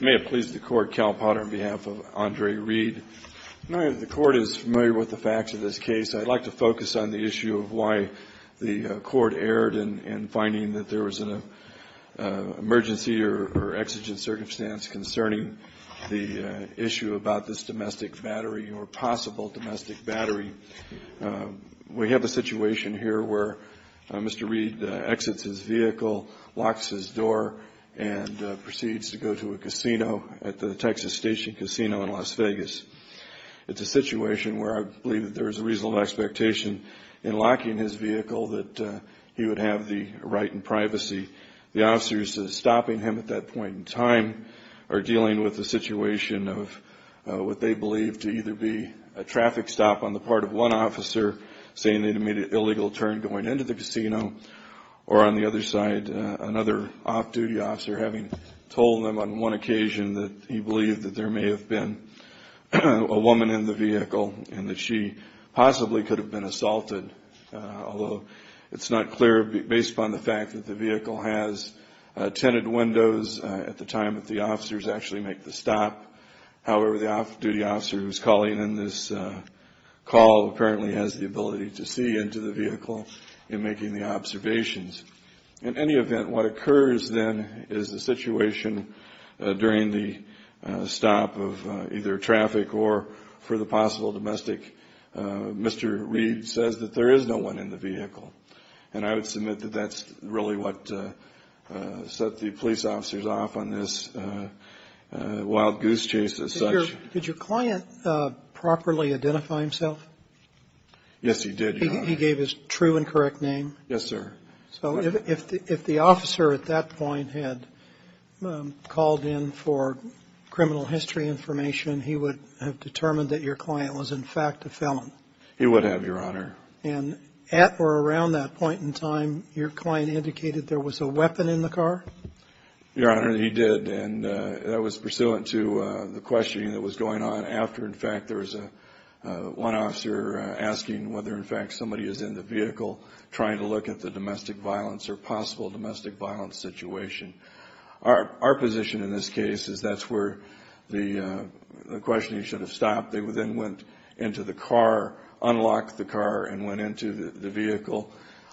May it please the Court, Cal Potter, on behalf of Andre Reed. The Court is familiar with the facts of this case. I'd like to focus on the issue of why the Court erred in finding that there was an emergency or exigent circumstance concerning the issue about this domestic battery or possible domestic battery. We have a situation here where Mr. Reed exits his vehicle, locks his door, and proceeds to go to a casino at the Texas Station Casino in Las Vegas. It's a situation where I believe that there is a reasonable expectation in locking his vehicle that he would have the right and privacy. The officers stopping him at that point in time are dealing with the situation of what part of one officer saying that he made an illegal turn going into the casino or, on the other side, another off-duty officer having told them on one occasion that he believed that there may have been a woman in the vehicle and that she possibly could have been assaulted, although it's not clear based upon the fact that the vehicle has tented windows at the time that the officers actually make the stop. However, the off-duty officer who is calling in this call apparently has the ability to see into the vehicle in making the observations. In any event, what occurs then is the situation during the stop of either traffic or for the possible domestic. Mr. Reed says that there is no one in the vehicle, and I would submit that that's really what set the police officers off on this wild goose chase as such. Did your client properly identify himself? Yes, he did, Your Honor. He gave his true and correct name? Yes, sir. So if the officer at that point had called in for criminal history information, he would have determined that your client was, in fact, a felon? He would have, Your Honor. And at or around that point in time, your client indicated there was a weapon in the car? Your Honor, he did, and that was pursuant to the questioning that was going on after, in fact, there was one officer asking whether, in fact, somebody is in the vehicle trying to look at the domestic violence or possible domestic violence situation. Our position in this case is that's where the questioning should have stopped. They then went into the car, unlocked the car, and went into the vehicle,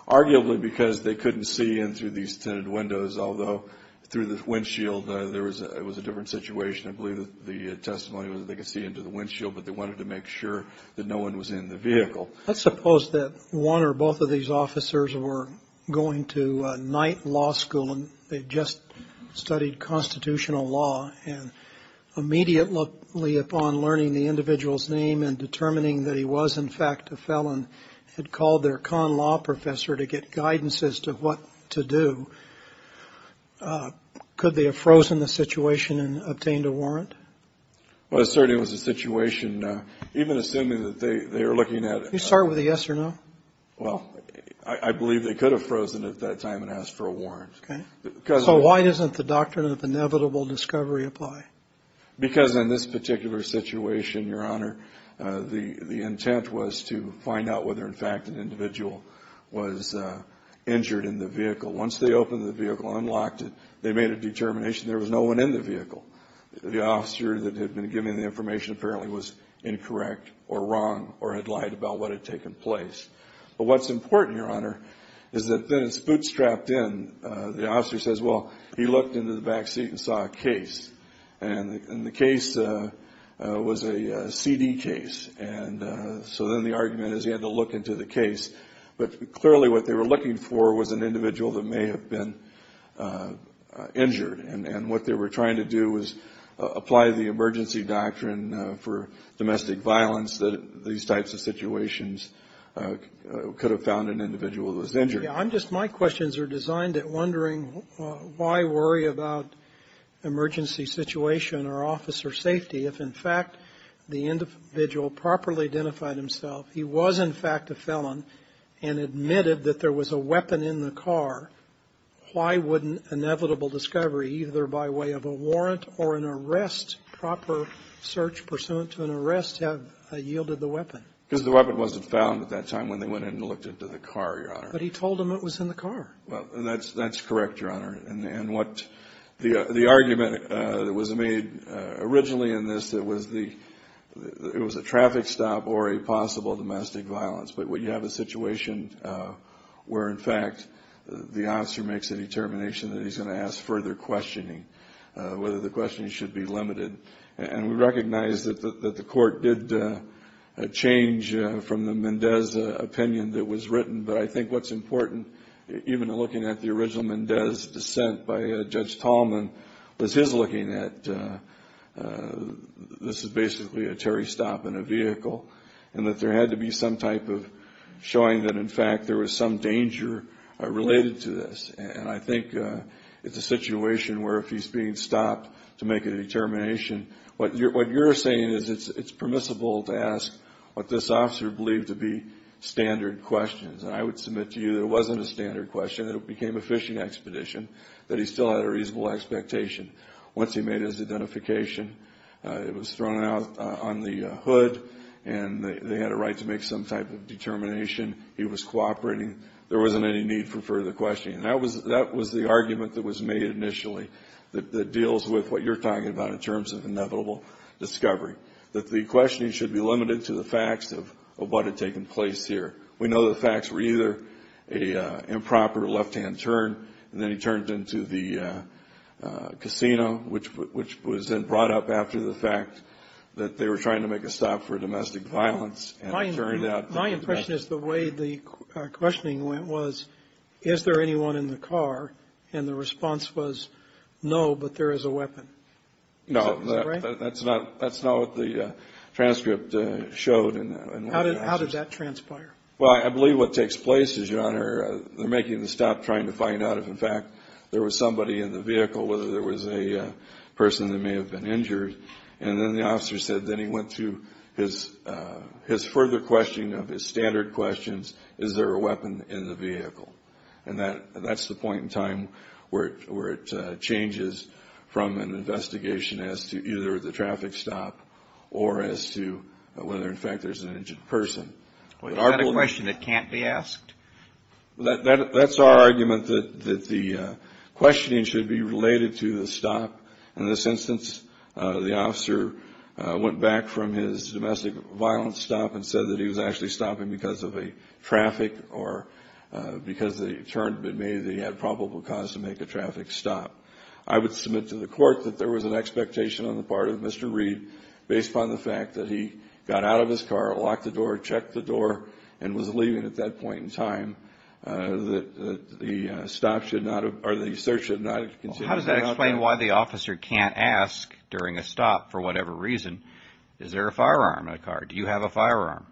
arguably because they couldn't see in through these tinted windows, although through the windshield there was a different situation. I believe that the testimony was that they could see into the windshield, but they wanted to make sure that no one was in the vehicle. Let's suppose that one or both of these officers were going to night law school, and they just studied constitutional law, and immediately upon learning the individual's name and determining that he was, in fact, a felon, had called their con law professor to get guidance as to what to do, could they have frozen the situation and obtained a warrant? Well, certainly it was a situation, even assuming that they were looking at it. You start with a yes or no? Well, I believe they could have frozen at that time and asked for a warrant. Okay. So why doesn't the doctrine of inevitable discovery apply? Because in this particular situation, Your Honor, the intent was to find out whether, in fact, an individual was injured in the vehicle. Once they opened the vehicle, unlocked it, they made a determination there was no one in the vehicle. The officer that had been giving the information apparently was incorrect or wrong or had lied about what had taken place. But what's important, Your Honor, is that then it's bootstrapped in. The officer says, well, he looked into the back seat and saw a case, and the case was a CD case, and so then the argument is he had to look into the case. But clearly what they were looking for was an individual that may have been injured, and what they were trying to do was apply the emergency doctrine for domestic violence that these types of situations could have found an individual that was injured. I'm just my questions are designed at wondering why worry about emergency situation or officer safety if, in fact, the individual properly identified himself. He was, in fact, a felon and admitted that there was a weapon in the car. Why wouldn't inevitable discovery, either by way of a warrant or an arrest, proper search pursuant to an arrest have yielded the weapon? Because the weapon wasn't found at that time when they went in and looked into the car, Your Honor. But he told them it was in the car. Well, and that's correct, Your Honor, and what the argument that was made originally in this, it was a traffic stop or a possible domestic violence. But when you have a situation where, in fact, the officer makes a determination that he's going to ask further questioning, whether the questioning should be limited. And we recognize that the court did change from the Mendez opinion that was written. But I think what's important, even looking at the original Mendez dissent by Judge Tallman, was his looking at this is basically a Terry stop in a vehicle. And that there had to be some type of showing that, in fact, there was some danger related to this. And I think it's a situation where, if he's being stopped to make a determination, what you're saying is it's permissible to ask what this officer believed to be standard questions. And I would submit to you that it wasn't a standard question, that it became a fishing expedition, that he still had a reasonable expectation. Once he made his identification, it was thrown out on the hood, and they had a right to make some type of determination. He was cooperating. There wasn't any need for further questioning. That was the argument that was made initially, that deals with what you're talking about in terms of inevitable discovery, that the questioning should be limited to the facts of what had taken place here. We know the facts were either a improper left-hand turn, and then he turned into the casino, which was then brought up after the fact that they were trying to make a stop for domestic violence and turned out to be- My impression is the way the questioning went was, is there anyone in the car? And the response was, no, but there is a weapon. No, that's not what the transcript showed. How did that transpire? Well, I believe what takes place is, Your Honor, they're making the stop, trying to find out if, in fact, there was somebody in the vehicle, whether there was a person that may have been injured. And then the officer said, then he went to his further question of his standard questions, is there a weapon in the vehicle? And that's the point in time where it changes from an investigation as to either the traffic stop or as to whether, in fact, there's an injured person. Well, is that a question that can't be asked? That's our argument, that the questioning should be related to the stop. In this instance, the officer went back from his domestic violence stop and said that he was actually stopping because of a traffic or because they turned, but maybe they had probable cause to make a traffic stop. I would submit to the court that there was an expectation on the part of Mr. Reed, based upon the fact that he got out of his car, locked the door, checked the door, and was leaving at that point in time, that the stop should not, or the search should not have continued. How does that explain why the officer can't ask, during a stop, for whatever reason, is there a firearm in the car? Do you have a firearm?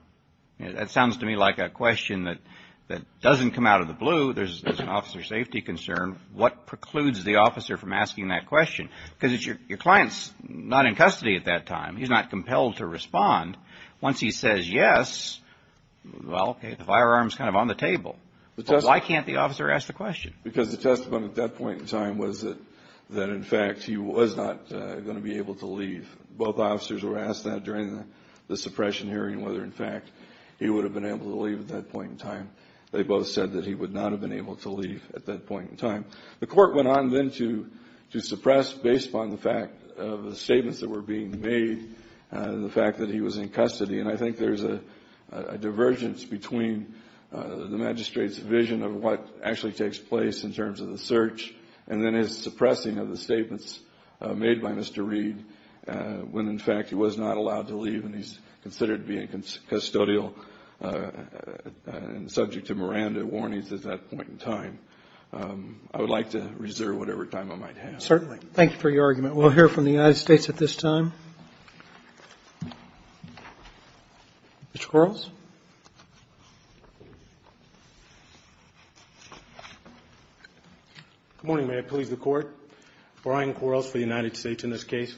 That sounds to me like a question that doesn't come out of the blue. There's an officer safety concern. What precludes the officer from asking that question? Because your client's not in custody at that time. He's not compelled to respond. Once he says yes, well, okay, the firearm's kind of on the table. But why can't the officer ask the question? Because the testimony at that point in time was that, in fact, he was not going to be able to leave. Both officers were asked that during the suppression hearing, whether, in fact, he would have been able to leave at that point in time. They both said that he would not have been able to leave at that point in time. The court went on then to suppress, based upon the fact of the statements that were being made, the fact that he was in custody. And I think there's a divergence between the magistrate's vision of what actually takes place in terms of the search and then his suppressing of the statements made by Mr. Reed when, in fact, he was not allowed to leave and he's considered being custodial and subject to Miranda warnings at that point in time. I would like to reserve whatever time I might have. Certainly. Thank you for your argument. Mr. Quarles? Good morning, Mayor, police, the court. Brian Quarles for the United States in this case.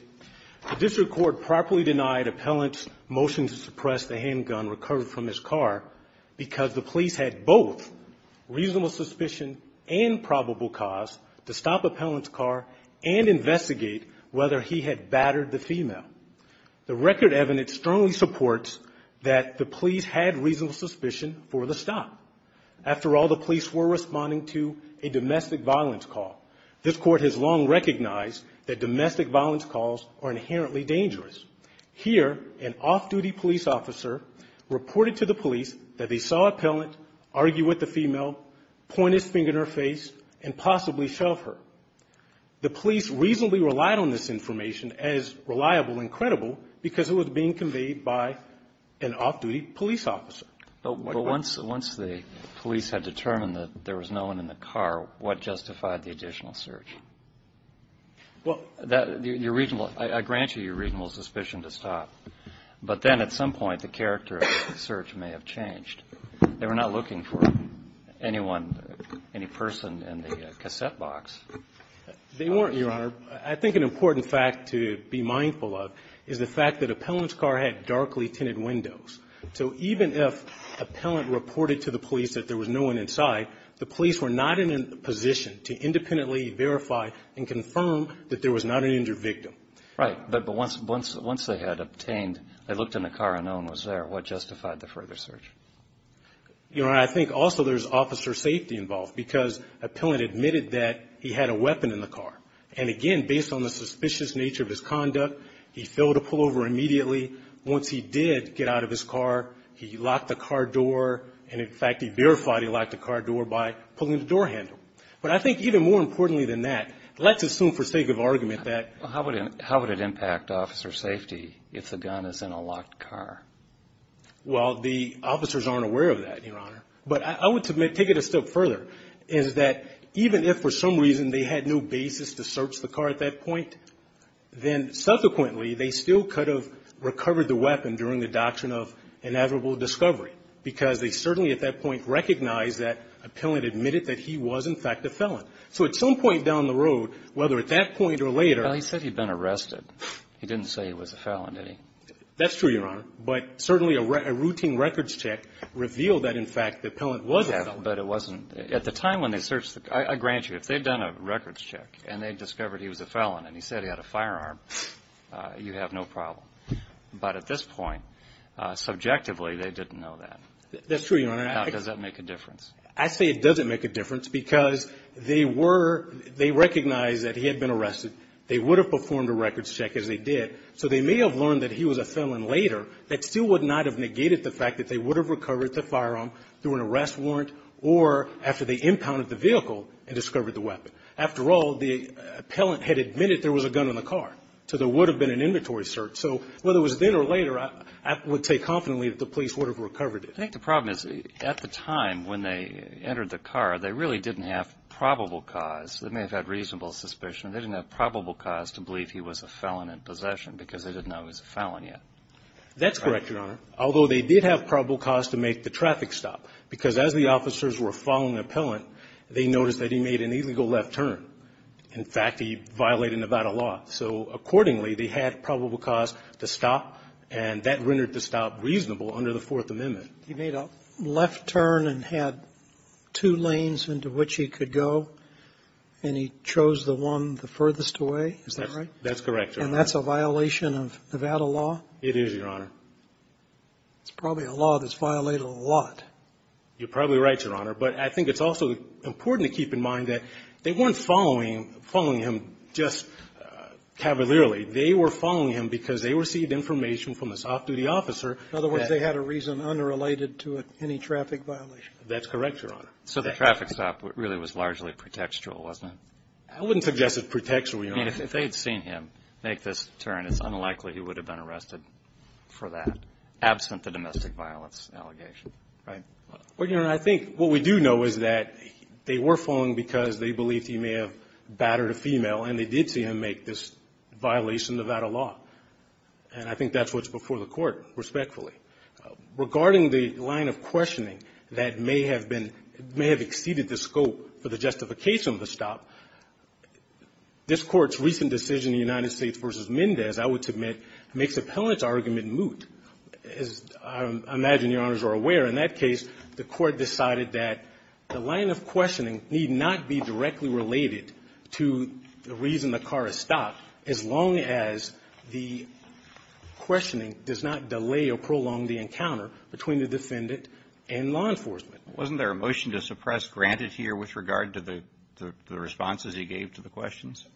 The district court properly denied appellant's motion to suppress the handgun recovered from his car because the police had both reasonable suspicion and probable cause to stop appellant's car and investigate whether he had battered the female. The record evidence strongly supports that the police had reasonable suspicion for the stop. After all, the police were responding to a domestic violence call. This court has long recognized that domestic violence calls are inherently dangerous. Here, an off-duty police officer reported to the police that they saw appellant argue with the female, point his finger in her face, and possibly shove her. The police reasonably relied on this information as reliable and credible because it was being conveyed by an off-duty police officer. But once the police had determined that there was no one in the car, what justified the additional search? Well, that, your reasonable, I grant you your reasonable suspicion to stop. But then at some point, the character of the search may have changed. They were not looking for anyone, any person in the cassette box. They weren't, Your Honor. I think an important fact to be mindful of is the fact that appellant's car had darkly tinted windows. So even if appellant reported to the police that there was no one inside, the police were not in a position to independently verify and confirm that there was not an injured victim. Right, but once they had obtained, they looked in the car and no one was there, what justified the further search? Your Honor, I think also there's officer safety involved because appellant admitted that he had a weapon in the car. And again, based on the suspicious nature of his conduct, he failed to pull over immediately. Once he did get out of his car, he locked the car door. And in fact, he verified he locked the car door by pulling the door handle. But I think even more importantly than that, let's assume for sake of argument that- How would it impact officer safety if the gun is in a locked car? Well, the officers aren't aware of that, Your Honor. But I would take it a step further, is that even if for some reason they had no basis to search the car at that point, then subsequently they still could have recovered the weapon during the doctrine of inevitable discovery, because they certainly at that point recognized that appellant admitted that he was in fact a felon. So at some point down the road, whether at that point or later- Well, he said he'd been arrested. He didn't say he was a felon, did he? That's true, Your Honor. But certainly a routine records check revealed that, in fact, the appellant was a felon. But it wasn't at the time when they searched the car. I grant you, if they'd done a records check and they discovered he was a felon and he said he had a firearm, you'd have no problem. But at this point, subjectively, they didn't know that. That's true, Your Honor. How does that make a difference? I say it doesn't make a difference, because they were – they recognized that he had been arrested. They would have performed a records check, as they did. So they may have learned that he was a felon later. That still would not have negated the fact that they would have recovered the firearm through an arrest warrant or after they impounded the vehicle and discovered the weapon. After all, the appellant had admitted there was a gun in the car. So there would have been an inventory search. So whether it was then or later, I would say confidently that the police would have recovered it. I think the problem is, at the time when they entered the car, they really didn't have probable cause. They may have had reasonable suspicion. They didn't have probable cause to believe he was a felon in possession, because they didn't know he was a felon yet. That's correct, Your Honor. Although they did have probable cause to make the traffic stop, because as the In fact, he violated Nevada law. So accordingly, they had probable cause to stop, and that rendered the stop reasonable under the Fourth Amendment. He made a left turn and had two lanes into which he could go, and he chose the one the furthest away? Is that right? That's correct, Your Honor. And that's a violation of Nevada law? It is, Your Honor. It's probably a law that's violated a lot. You're probably right, Your Honor. But I think it's also important to keep in mind that they weren't following him just cavalierly. They were following him because they received information from this off-duty officer that In other words, they had a reason unrelated to any traffic violation? That's correct, Your Honor. So the traffic stop really was largely pretextual, wasn't it? I wouldn't suggest it's pretextual, Your Honor. I mean, if they had seen him make this turn, it's unlikely he would have been arrested for that, absent the domestic violence allegation, right? Well, Your Honor, I think what we do know is that they were following because they believed he may have battered a female, and they did see him make this violation of Nevada law. And I think that's what's before the Court, respectfully. Regarding the line of questioning that may have been — may have exceeded the scope for the justification of the stop, this Court's recent decision in the United States v. Mendez, I would submit, makes the appellant's argument moot. As I imagine Your Honors are aware, in that case, the Court decided that the line of questioning need not be directly related to the reason the car is stopped as long as the questioning does not delay or prolong the encounter between the defendant and law enforcement. Wasn't there a motion to suppress granted here with regard to the responses he gave to the questions?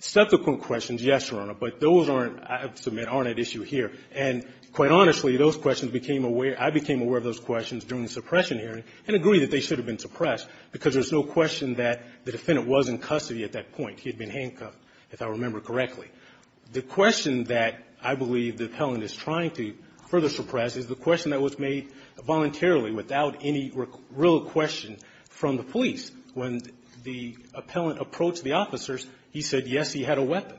Subsequent questions, yes, Your Honor, but those aren't, I submit, aren't at issue here. And quite honestly, those questions became aware — I became aware of those questions during the suppression hearing and agree that they should have been suppressed because there's no question that the defendant was in custody at that point. He had been handcuffed, if I remember correctly. The question that I believe the appellant is trying to further suppress is the question that was made voluntarily without any real question from the police. When the appellant approached the officers, he said, yes, he had a weapon.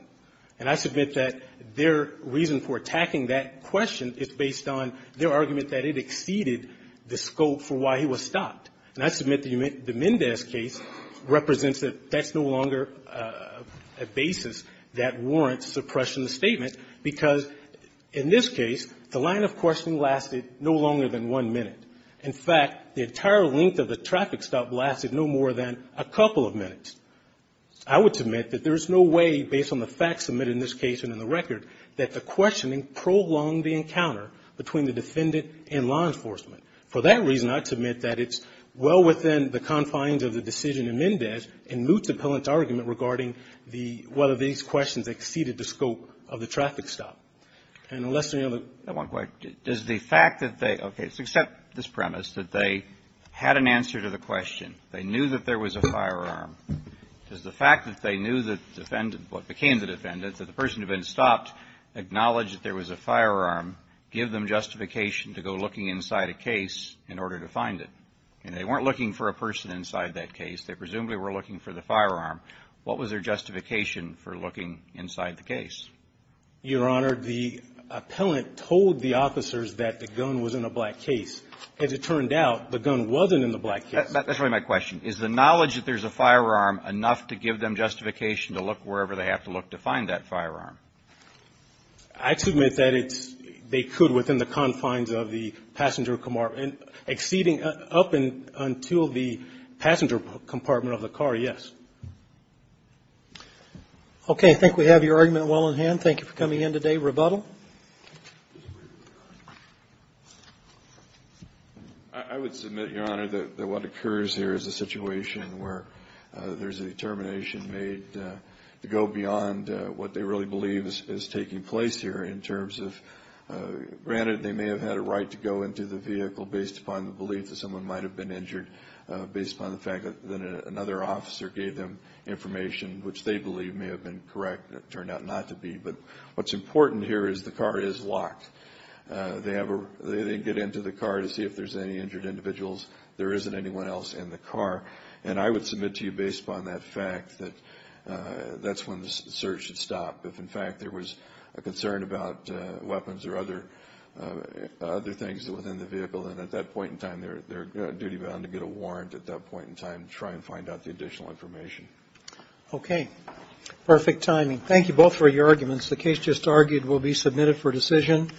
And I submit that their reason for attacking that question is based on their argument that it exceeded the scope for why he was stopped. And I submit that the Mendez case represents that that's no longer a basis that warrants suppression of the statement because, in this case, the line of questioning lasted no longer than one minute. In fact, the entire length of the traffic stop lasted no more than a couple of minutes. I would submit that there is no way, based on the facts submitted in this case and in the record, that the questioning prolonged the encounter between the defendant and law enforcement. For that reason, I submit that it's well within the confines of the decision in Mendez in Moot's appellant's argument regarding the — whether these questions exceeded the scope of the traffic stop. And unless there's any other — Kennedy. Does the fact that they — okay, let's accept this premise that they had an answer to the question. They knew that there was a firearm. Does the fact that they knew that the defendant — what became the defendant, that the person who had been stopped acknowledged that there was a firearm, give them justification to go looking inside a case in order to find it? And they weren't looking for a person inside that case. They presumably were looking for the firearm. What was their justification for looking inside the case? Your Honor, the appellant told the officers that the gun was in a black case. As it turned out, the gun wasn't in the black case. That's really my question. Is the knowledge that there's a firearm enough to give them justification to look wherever they have to look to find that firearm? I submit that it's — they could within the confines of the passenger — exceeding up until the passenger compartment of the car, yes. Okay. I think we have your argument well in hand. Thank you for coming in today. Rebuttal. I would submit, Your Honor, that what occurs here is a situation where there's a determination made to go beyond what they really believe is taking place here in terms of — granted, they may have had a right to go into the vehicle based upon the belief that someone might have been injured, based upon the fact that another officer gave them information which they believe may have been correct. It turned out not to be. But what's important here is the car is locked. They have a — they get into the car to see if there's any injured individuals. There isn't anyone else in the car. And I would submit to you, based upon that fact, that that's when the search should stop. If, in fact, there was a concern about weapons or other things within the vehicle, then at that point in time, they're duty-bound to get a warrant at that point in time to try and find out the additional information. Okay. Perfect timing. Thank you both for your arguments. The case just argued will be submitted for decision.